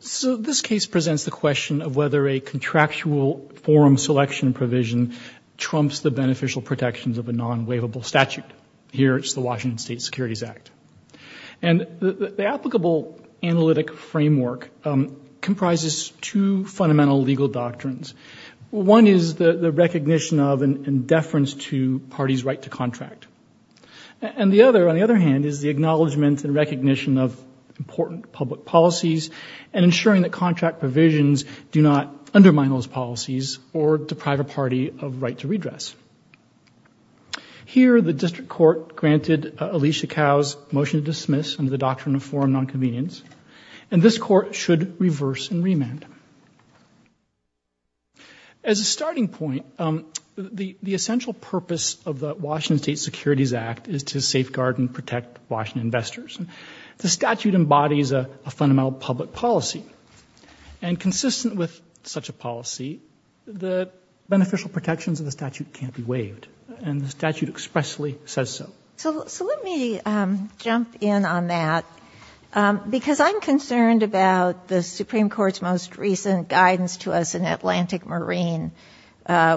So this case presents the question of whether a contractual forum selection provision trumps the beneficial protections of a non-waivable statute. Here it's the Washington State Securities Act. And the applicable analytic framework comprises two fundamental legal doctrines. One is the recognition of and deference to parties' right to contract. And the other, on the other hand, is the acknowledgement and recognition of important public policies and ensuring that contract provisions do not undermine those policies or deprive a party of right to redress. Here, the district court granted Alicia Cao's motion to dismiss under the doctrine of forum non-convenience, and this court should reverse and remand. As a starting point, the essential purpose of the Washington State Securities Act is to safeguard and protect Washington investors. And the statute embodies a fundamental public policy. And consistent with such a policy, the beneficial protections of the statute can't be waived. And the statute expressly says so. So let me jump in on that because I'm concerned about the Supreme Court's most recent guidance to us in Atlantic Marine,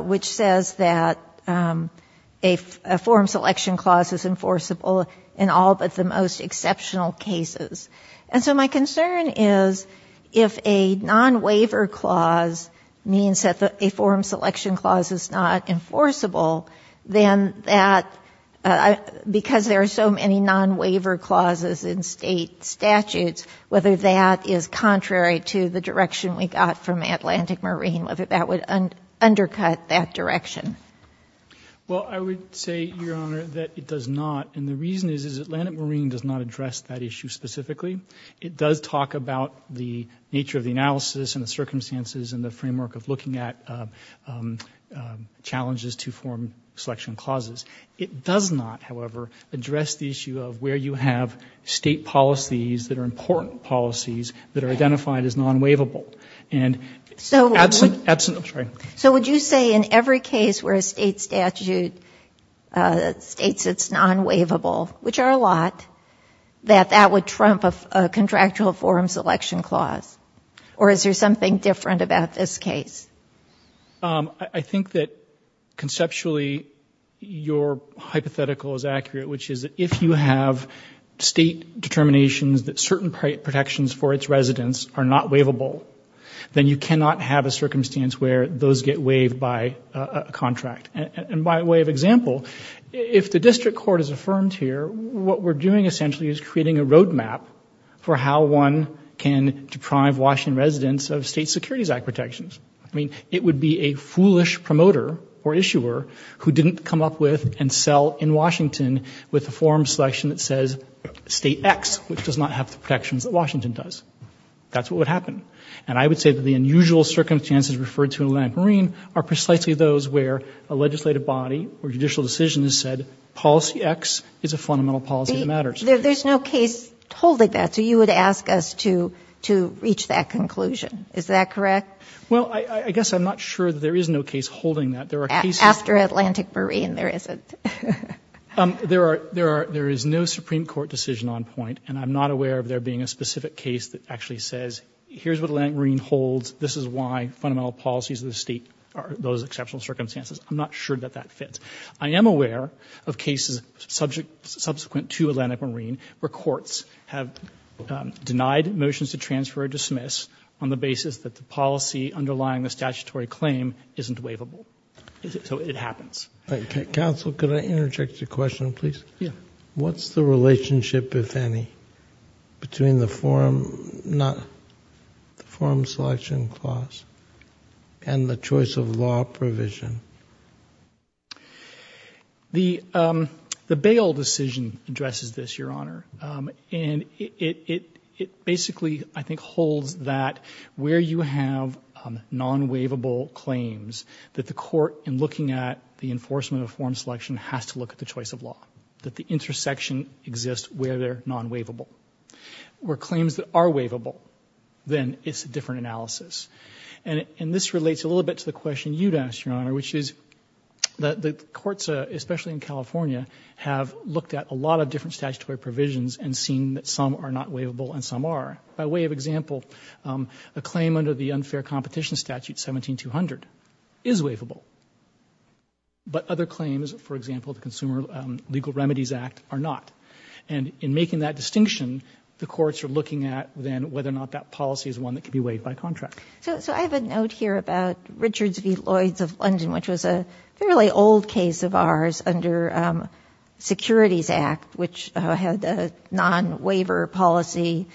which says that a forum selection clause is enforceable in all but the most exceptional cases. And so my concern is if a non-waiver clause means that a forum selection clause is not enforceable, then that, because there are so many non-waiver clauses in state statutes, whether that is contrary to the direction we got from Atlantic Marine, whether that would undercut that direction. Well, I would say, Your Honor, that it does not. And the reason is, is Atlantic Marine does not address that issue specifically. It does talk about the nature of the analysis and the circumstances and the framework of looking at challenges to forum selection clauses. It does not, however, address the issue of where you have state policies that are important policies that are identified as non-waivable. And so absent, absent, I'm sorry. So would you say in every case where a state statute states it's non-waivable, which are a lot, that that would trump a contractual forum selection clause? Or is there something different about this case? I think that conceptually your hypothetical is accurate, which is if you have state determinations that certain protections for its residents are not waivable, then you cannot have a circumstance where those get waived by a contract. And by way of example, if the district court is affirmed here, what we're doing essentially is creating a roadmap for how one can deprive Washington residents of state It would be a foolish promoter or issuer who didn't come up with and sell in Washington with a forum selection that says state X, which does not have the protections that Washington does. That's what would happen. And I would say that the unusual circumstances referred to in Atlantic Marine are precisely those where a legislative body or judicial decision has said policy X is a fundamental policy that matters. There's no case holding that. So you would ask us to, to reach that conclusion. Is that correct? Well, I guess I'm not sure that there is no case holding that. There are cases. After Atlantic Marine, there isn't. There are, there are, there is no Supreme Court decision on point. And I'm not aware of there being a specific case that actually says, here's what Atlantic Marine holds. This is why fundamental policies of the state are those exceptional circumstances. I'm not sure that that fits. I am aware of cases subject, subsequent to Atlantic Marine where courts have denied motions to transfer or dismiss on the basis that the policy underlying the statutory claim isn't waivable. So it happens. Counsel, could I interject a question, please? Yeah. What's the relationship, if any, between the forum, not the forum selection clause and the choice of law provision? The, um, the bail decision addresses this, Your Honor. Um, and it, it, it basically, I think, holds that where you have, um, non-waivable claims that the court in looking at the enforcement of forum selection has to look at the choice of law, that the intersection exists where they're non-waivable, where claims that are waivable, then it's a different analysis. And, and this relates a little bit to the question you'd asked, Your Honor, which is that the courts, especially in California, have looked at a lot of different statutory provisions and seen that some are not waivable and some are. By way of example, um, a claim under the unfair competition statute 17-200 is waivable, but other claims, for example, the Consumer Legal Remedies Act are not. And in making that distinction, the courts are looking at then whether or not that policy is one that can be waived by contract. So, so I have a note here about Richard's v. Lloyd's of London, which was a fairly old case of ours under, um, Securities Act, which had a non-waiver policy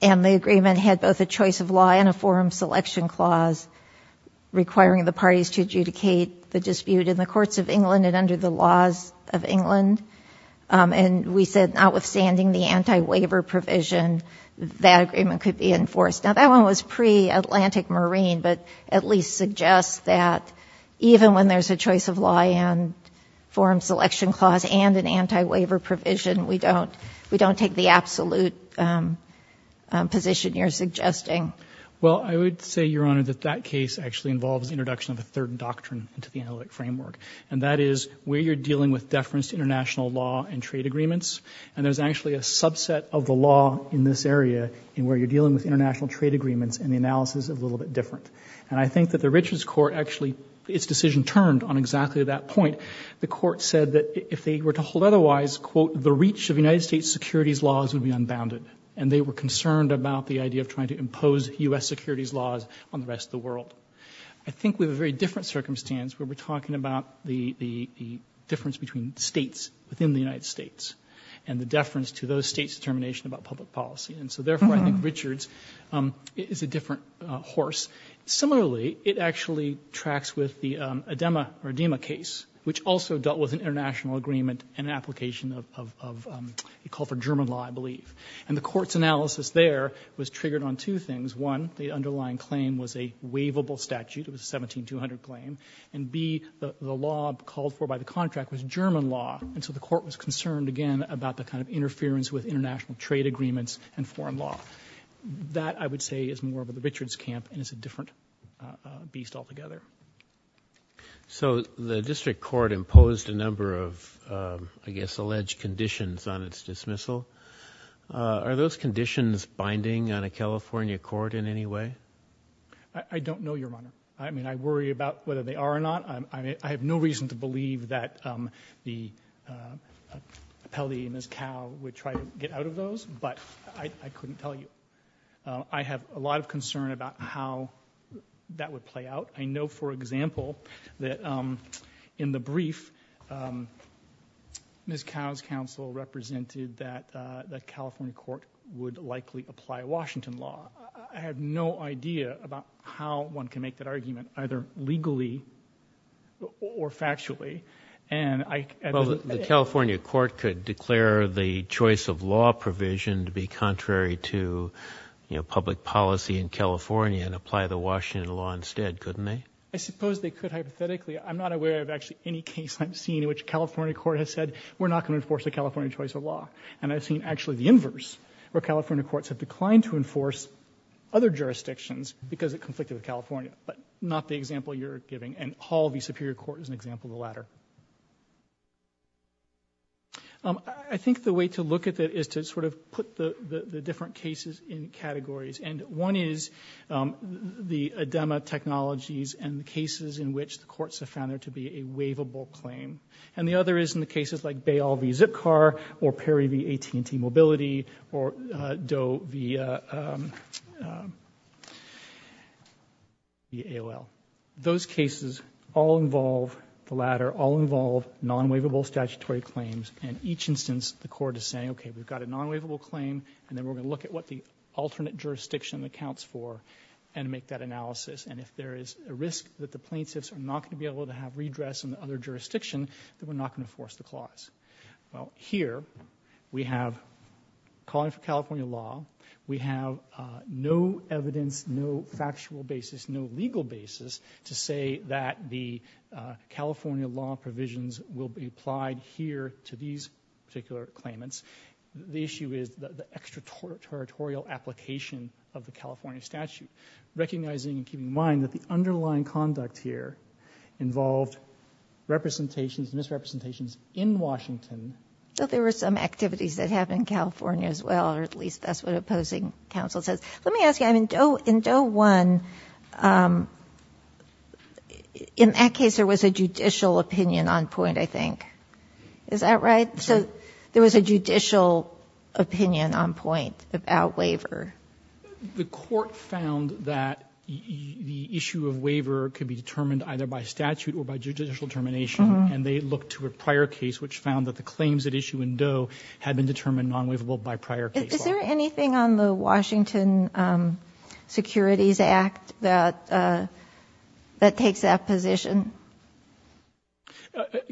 and the agreement had both a choice of law and a forum selection clause requiring the parties to adjudicate the dispute in the courts of England and under the laws of England. Um, and we said notwithstanding the anti-waiver provision, that agreement could be enforced. Now that one was pre-Atlantic Marine, but at least suggests that even when there's a choice of law and forum selection clause and an anti-waiver provision, we don't, we don't take the absolute, um, um, position you're suggesting. Well, I would say, Your Honor, that that case actually involves introduction of a third doctrine into the analytic framework, and that is where you're dealing with deference to international law and trade agreements, and there's actually a subset of the law in this area in where you're dealing with international trade agreements and the analysis is a little bit different. And I think that the Richards court actually, its decision turned on exactly that point, the court said that if they were to hold otherwise, quote, the reach of United States securities laws would be unbounded, and they were concerned about the idea of trying to impose U.S. securities laws on the rest of the world. I think we have a very different circumstance where we're talking about the, the, the difference between States within the United States and the deference to those States determination about public policy. And so therefore I think Richards, um, is a different, uh, horse. Similarly, it actually tracks with the, um, Adema or Adema case, which also dealt with an international agreement and application of, of, of, um, it called for German law, I believe. And the court's analysis there was triggered on two things. One, the underlying claim was a waivable statute. It was a 17200 claim. And B, the, the law called for by the contract was German law. And so the court was concerned again about the kind of interference with foreign law that I would say is more of a Richards camp and it's a different, uh, beast altogether. So the district court imposed a number of, um, I guess, alleged conditions on its dismissal. Uh, are those conditions binding on a California court in any way? I don't know, Your Honor. I mean, I worry about whether they are or not. I mean, I have no reason to believe that, um, the, uh, uh, Pelley and out of those, but I couldn't tell you. Uh, I have a lot of concern about how that would play out. I know, for example, that, um, in the brief, um, Ms. Cow's counsel represented that, uh, the California court would likely apply Washington law. I have no idea about how one can make that argument either legally or factually. And I, the California court could declare the choice of law provision to be contrary to public policy in California and apply the Washington law instead, couldn't they? I suppose they could. Hypothetically, I'm not aware of actually any case I've seen in which California court has said, we're not going to enforce the California choice of law. And I've seen actually the inverse where California courts have declined to enforce other jurisdictions because it conflicted with California, but not the example you're giving. And Hall v. Superior Court is an example of the latter. Um, I think the way to look at that is to sort of put the, the, the different cases in categories. And one is, um, the ADEMA technologies and the cases in which the courts have found there to be a waivable claim. And the other is in the cases like Bayall v. Zipcar or Perry v. AT&T Mobility or, uh, Doe v., uh, um, um, the AOL. Those cases all involve, the latter, all involve non-waivable statutory claims. And each instance, the court is saying, okay, we've got a non-waivable claim. And then we're going to look at what the alternate jurisdiction accounts for and make that analysis. And if there is a risk that the plaintiffs are not going to be able to have redress in the other jurisdiction, then we're not going to force the clause. Well, here we have calling for California law. We have, uh, no evidence, no factual basis, no legal basis to say that the, uh, California law provisions will be applied here to these particular claimants. The issue is the, the extraterritorial application of the California statute. Recognizing and keeping in mind that the underlying conduct here involved representations, misrepresentations in Washington. So there were some activities that happened in California as well, or at least opposing counsel says, let me ask you, I mean, in Doe 1, um, in that case, there was a judicial opinion on point, I think. Is that right? So there was a judicial opinion on point about waiver. The court found that the issue of waiver could be determined either by statute or by judicial determination. And they looked to a prior case, which found that the claims at issue in Doe had been determined non-waivable by prior case. Is there anything on the Washington, um, securities act that, uh, that takes that position?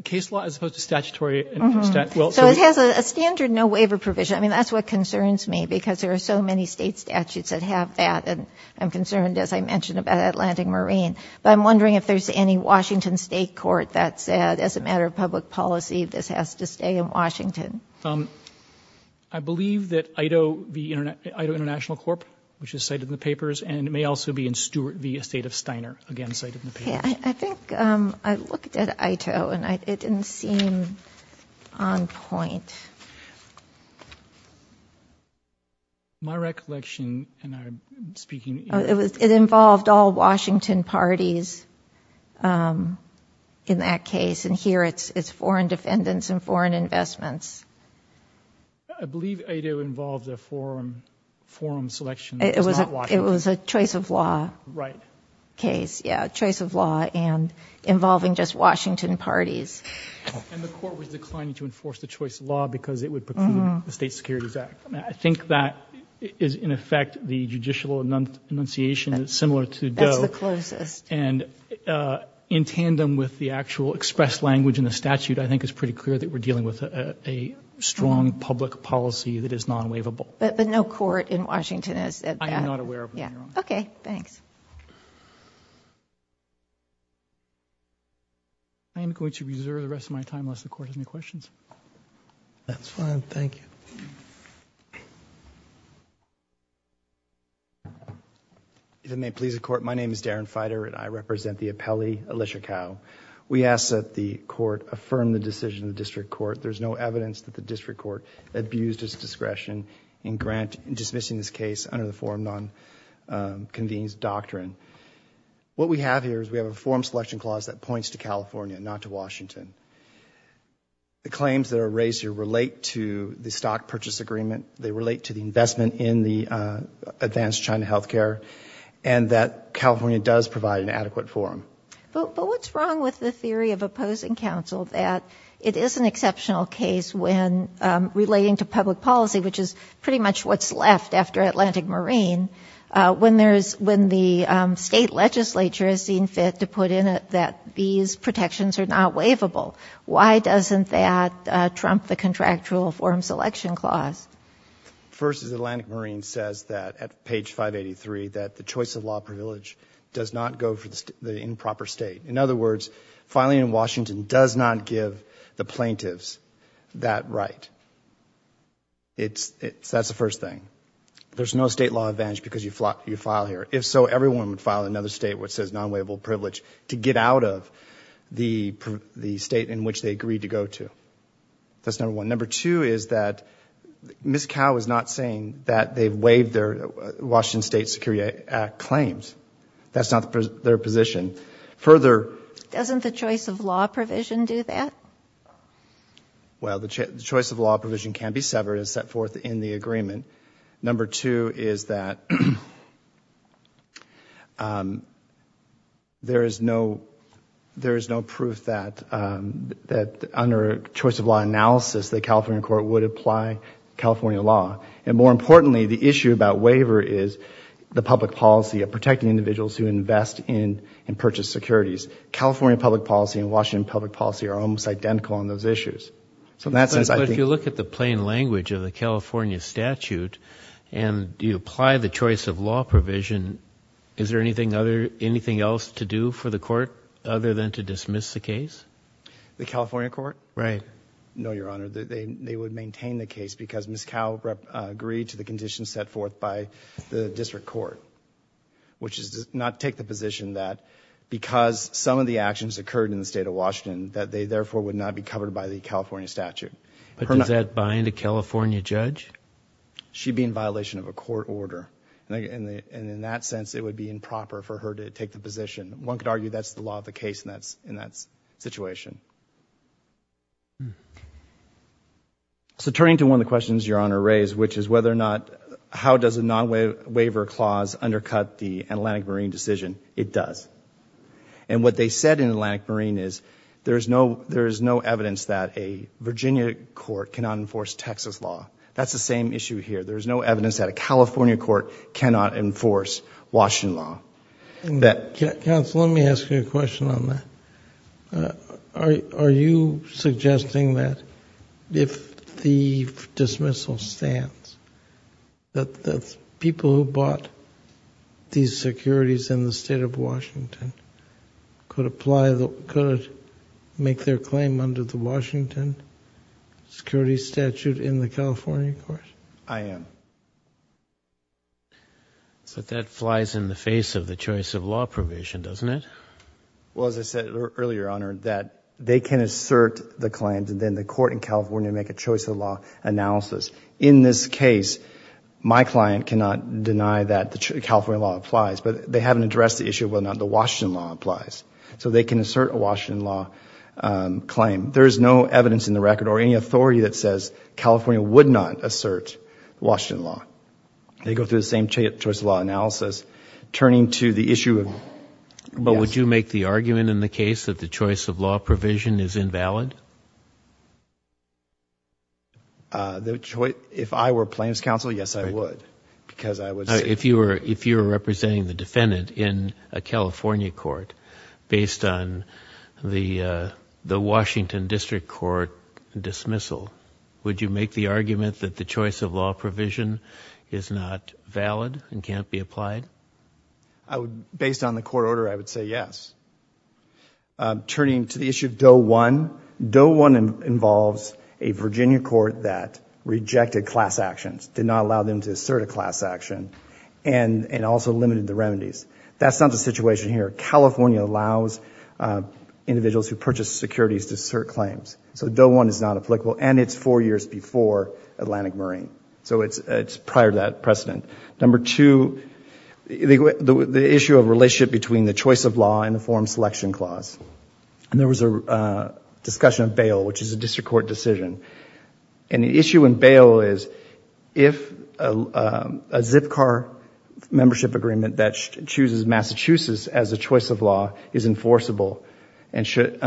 Case law as opposed to statutory. So it has a standard, no waiver provision. I mean, that's what concerns me because there are so many state statutes that have that. And I'm concerned, as I mentioned about Atlantic Marine, but I'm wondering if there's any Washington state court that said as a matter of public policy, this has to stay in Washington. Um, I believe that IDO, the IDO international corp, which is cited in the papers, and it may also be in Stewart v. Estate of Steiner, again, cited in the papers. I think, um, I looked at IDO and I, it didn't seem on point. My recollection, and I'm speaking. Oh, it was, it involved all Washington parties, um, in that case. And here it's, it's foreign defendants and foreign investments. I believe IDO involved a forum, forum selection. It was a choice of law case. Yeah. Choice of law and involving just Washington parties. And the court was declining to enforce the choice of law because it would preclude the state securities act. And, uh, in tandem with the actual expressed language in the statute, I think it's pretty clear that we're dealing with a strong public policy that is non-waivable. But, but no court in Washington has said that. I am not aware of one. Yeah. Okay. Thanks. I am going to reserve the rest of my time unless the court has any questions. That's fine. Thank you. If it may please the court. My name is Darren Feider and I represent the appellee, Alicia Kao. We ask that the court affirm the decision of the district court. There's no evidence that the district court abused its discretion in grant, in dismissing this case under the forum non, um, convenes doctrine. What we have here is we have a forum selection clause that points to California, not to Washington. The claims that are raised here relate to the stock purchase agreement. They relate to the investment in the, uh, advanced China healthcare, and that California does provide an adequate forum. But, but what's wrong with the theory of opposing counsel that it is an exceptional case when, um, relating to public policy, which is pretty much what's left after Atlantic Marine, uh, when there's, when the, um, state legislature has seen fit to put in it, that these protections are not waivable. Why doesn't that, uh, trump the contractual forum selection clause? First is Atlantic Marine says that at page 583, that the choice of law privilege does not go for the improper state. In other words, filing in Washington does not give the plaintiffs that right. It's, it's, that's the first thing. There's no state law advantage because you fly, you file here. If so, everyone would file another state, which says non-waivable privilege to get out of the, the state in which they agreed to go to, that's number one. Number two is that Ms. Mao is not saying that they've waived their Washington State Security Act claims. That's not their position. Further... Doesn't the choice of law provision do that? Well, the choice of law provision can be severed and set forth in the agreement. Number two is that, um, there is no, there is no proof that, um, that under choice of law analysis, the California court would apply California law. And more importantly, the issue about waiver is the public policy of protecting individuals who invest in and purchase securities, California public policy and Washington public policy are almost identical on those issues. So in that sense, I think... But if you look at the plain language of the California statute and you apply the choice of law provision, is there anything other, anything else to do for the court other than to dismiss the case? The California court? Right. No, Your Honor, they would maintain the case because Ms. Mao agreed to the conditions set forth by the district court, which is to not take the position that because some of the actions occurred in the state of Washington, that they therefore would not be covered by the California statute. But does that bind a California judge? She'd be in violation of a court order. And in that sense, it would be improper for her to take the position. One could argue that's the law of the case and that's in that situation. So turning to one of the questions Your Honor raised, which is whether or not, how does a non-waiver clause undercut the Atlantic Marine decision? It does. And what they said in Atlantic Marine is there is no, there is no evidence that a Virginia court cannot enforce Texas law. That's the same issue here. There's no evidence that a California court cannot enforce Washington law. And that... Counsel, let me ask you a question on that. Are you suggesting that? If the dismissal stands, that the people who bought these securities in the state of Washington could apply, could make their claim under the Washington security statute in the California court? I am. So that flies in the face of the choice of law probation, doesn't it? Well, as I said earlier, Your Honor, that they can assert the claims and then the court in California make a choice of law analysis. In this case, my client cannot deny that the California law applies, but they haven't addressed the issue of whether or not the Washington law applies. So they can assert a Washington law claim. There is no evidence in the record or any authority that says California would not assert Washington law. They go through the same choice of law analysis. Turning to the issue of... But would you make the argument in the case that the choice of law provision is invalid? If I were a plaintiff's counsel, yes, I would, because I would say... If you were, if you were representing the defendant in a California court based on the, the Washington district court dismissal, would you make the argument that the choice of law provision is not valid and can't be applied? I would, based on the court order, I would say yes. Turning to the issue of Doe 1. Doe 1 involves a Virginia court that rejected class actions, did not allow them to assert a class action, and also limited the remedies. That's not the situation here. California allows individuals who purchase securities to assert claims. So Doe 1 is not applicable and it's four years before Atlantic Marine. So it's prior to that precedent. Number two, the issue of relationship between the choice of law and the forum selection clause. And there was a discussion of bail, which is a district court decision. And the issue in bail is if a Zipcar membership agreement that chooses Massachusetts as a choice of law is enforceable and should,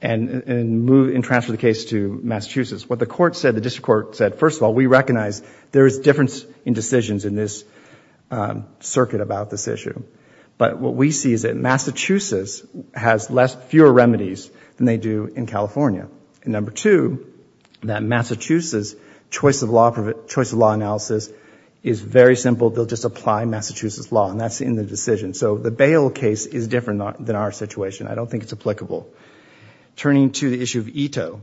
and move, and transfer the case to Massachusetts. What the court said, the district court said, first of all, we recognize But what we see is that Massachusetts has fewer remedies than they do in California. And number two, that Massachusetts choice of law analysis is very simple. They'll just apply Massachusetts law and that's in the decision. So the bail case is different than our situation. I don't think it's applicable. Turning to the issue of Ito.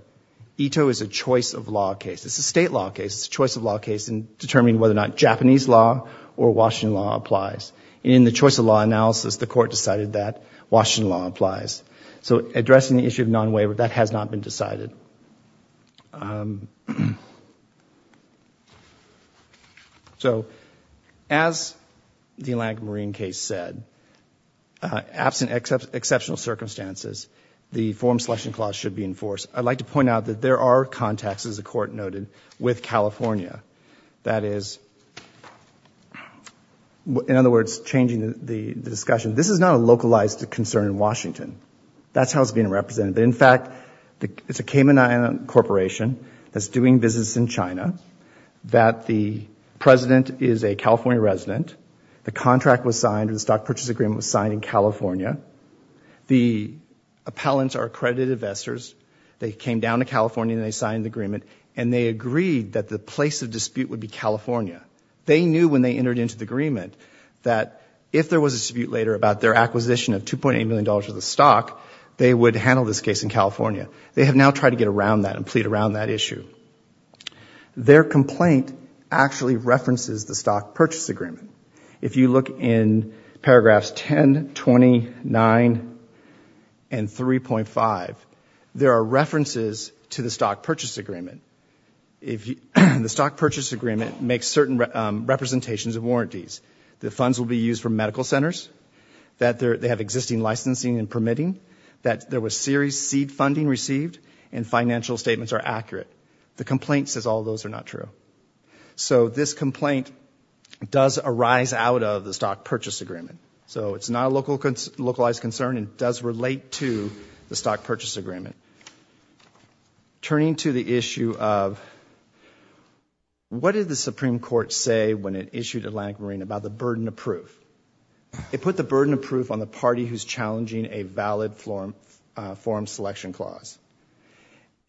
Ito is a choice of law case. It's a state law case. It's a choice of law case in determining whether or not Japanese law or Washington law applies. In the choice of law analysis, the court decided that Washington law applies. So addressing the issue of non-waiver, that has not been decided. So as the Atlantic Marine case said, absent exceptional circumstances, the forum selection clause should be enforced. I'd like to point out that there are contacts, as the court noted, with changing the discussion. This is not a localized concern in Washington. That's how it's being represented. But in fact, it's a Cayman Island corporation that's doing business in China, that the president is a California resident. The contract was signed. The stock purchase agreement was signed in California. The appellants are accredited investors. They came down to California and they signed the agreement and they agreed that the place of dispute would be California. They knew when they entered into the agreement that if there was a dispute later about their acquisition of $2.8 million worth of stock, they would handle this case in California. They have now tried to get around that and plead around that issue. Their complaint actually references the stock purchase agreement. If you look in paragraphs 10, 20, 9, and 3.5, there are references to the stock purchase agreement. If the stock purchase agreement makes certain representations of warranties, the funds will be used for medical centers, that they have existing licensing and permitting, that there was serious seed funding received, and financial statements are accurate. The complaint says all those are not true. So this complaint does arise out of the stock purchase agreement. So it's not a localized concern and does relate to the stock purchase agreement. Turning to the issue of what did the Supreme Court say when it issued Atlantic Marine about the burden of proof? It put the burden of proof on the party who's challenging a valid forum selection clause.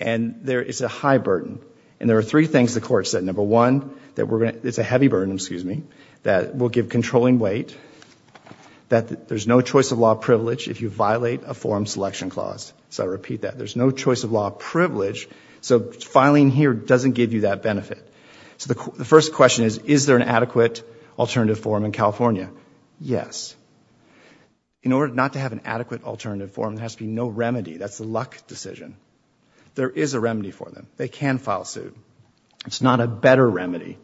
And there is a high burden. And there are three things the court said. Number one, that it's a heavy burden, excuse me, that will give controlling weight, that there's no choice of law privilege if you violate a forum selection clause. So I repeat that. There's no choice of law privilege. So filing here doesn't give you that benefit. So the first question is, is there an adequate alternative forum in California? Yes. In order not to have an adequate alternative forum, there has to be no remedy. That's a luck decision. There is a remedy for them. They can file suit. It's not a better remedy.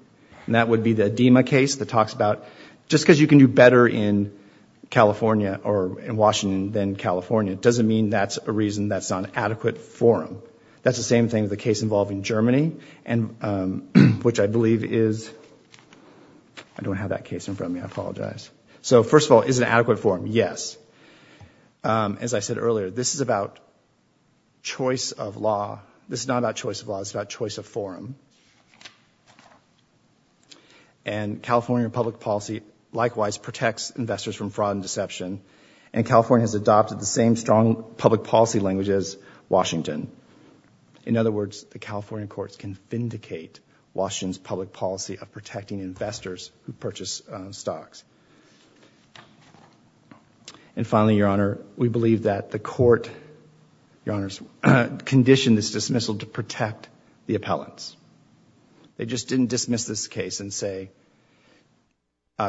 And that would be the Adema case that talks about just because you can do better in California or in Washington than California, doesn't mean that's a adequate forum. That's the same thing with the case involving Germany, which I believe is, I don't have that case in front of me. I apologize. So first of all, is it an adequate forum? Yes. As I said earlier, this is about choice of law. This is not about choice of law. It's about choice of forum. And California public policy likewise protects investors from fraud and deception. And California has adopted the same strong public policy language as Washington. In other words, the California courts can vindicate Washington's public policy of protecting investors who purchase stocks. And finally, Your Honor, we believe that the court, Your Honors, conditioned this dismissal to protect the appellants. They just didn't dismiss this case and say,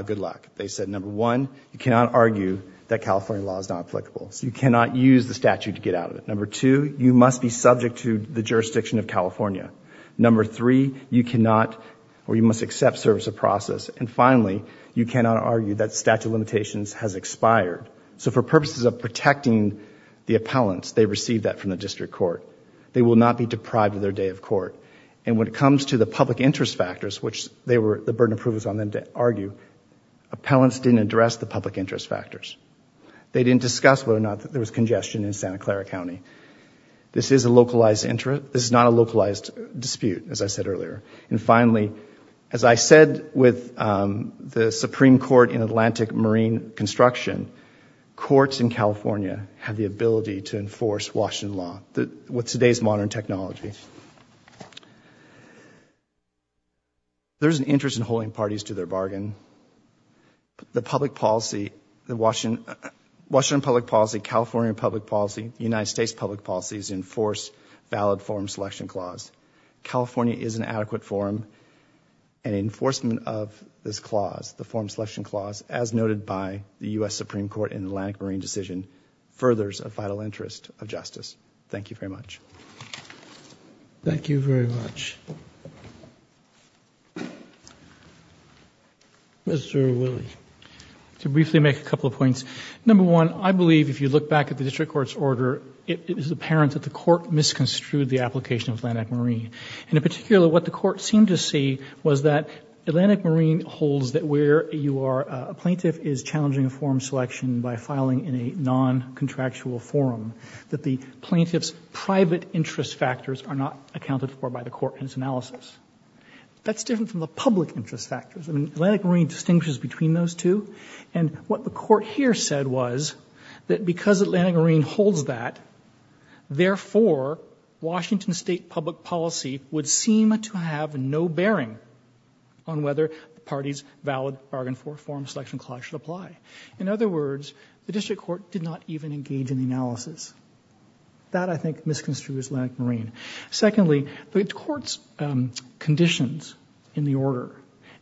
good luck. They said, number one, you cannot argue that California law is not applicable. So you cannot use the statute to get out of it. Number two, you must be subject to the jurisdiction of California. Number three, you cannot, or you must accept service of process. And finally, you cannot argue that statute of limitations has expired. So for purposes of protecting the appellants, they received that from the district court. They will not be deprived of their day of court. And when it comes to the public interest factors, which they were, the burden of approval is on them to argue, appellants didn't address the public interest factors. They didn't discuss whether or not there was congestion in Santa Clara County. This is a localized interest. This is not a localized dispute, as I said earlier. And finally, as I said with the Supreme Court in Atlantic Marine Construction, courts in California have the ability to enforce Washington law with today's modern technology. There's an interest in holding parties to their bargain. The public policy, the Washington, Washington public policy, California public policy, United States public policies enforce valid form selection clause. California is an adequate forum and enforcement of this clause, the form selection clause, as noted by the U.S. Supreme Court in Atlantic Marine decision, furthers a vital interest of justice. Thank you very much. Thank you very much. Mr. Willie. To briefly make a couple of points. Number one, I believe if you look back at the district court's order, it is apparent that the court misconstrued the application of Atlantic Marine. And in particular, what the court seemed to see was that Atlantic Marine holds that where you are, a plaintiff is challenging a form selection by filing in a non public interest. Factors are not accounted for by the court in its analysis. That's different from the public interest factors. I mean, Atlantic Marine distinguishes between those two. And what the court here said was that because Atlantic Marine holds that, therefore Washington state public policy would seem to have no bearing on whether the party's valid bargain for forum selection clause should apply. In other words, the district court did not even engage in the analysis. That I think misconstrued Atlantic Marine. Secondly, the court's conditions in the order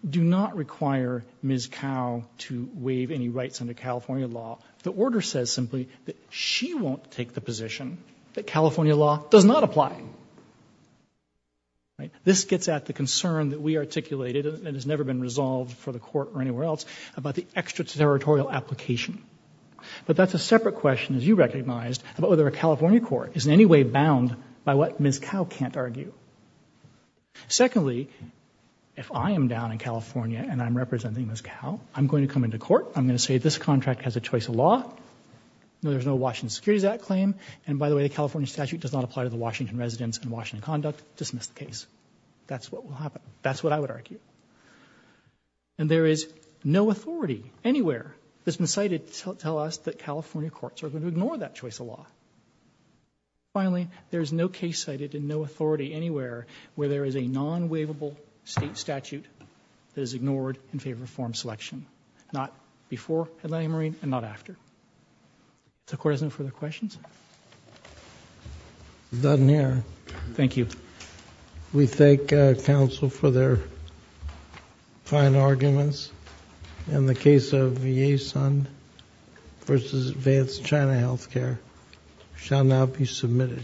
do not require Ms. Cao to waive any rights under California law. The order says simply that she won't take the position that California law does not apply. Right. This gets at the concern that we articulated and has never been resolved for the court or anywhere else about the extraterritorial application. But that's a separate question. As you recognized about whether a California court is in any way bound by what Ms. Cao can't argue. Secondly, if I am down in California and I'm representing Ms. Cao, I'm going to come into court. I'm going to say this contract has a choice of law. No, there's no Washington Securities Act claim. And by the way, the California statute does not apply to the Washington residents and Washington conduct. Dismiss the case. That's what will happen. That's what I would argue. And there is no authority anywhere that's been cited to tell us that California courts are going to ignore that choice of law. Finally, there is no case cited and no authority anywhere where there is a non waivable state statute that is ignored in favor of form selection. Not before Atlantic Marine and not after. The court has no further questions. Done here. Thank you. We thank counsel for their fine arguments. And the case of Ye Sun versus Vance China Healthcare shall now be submitted.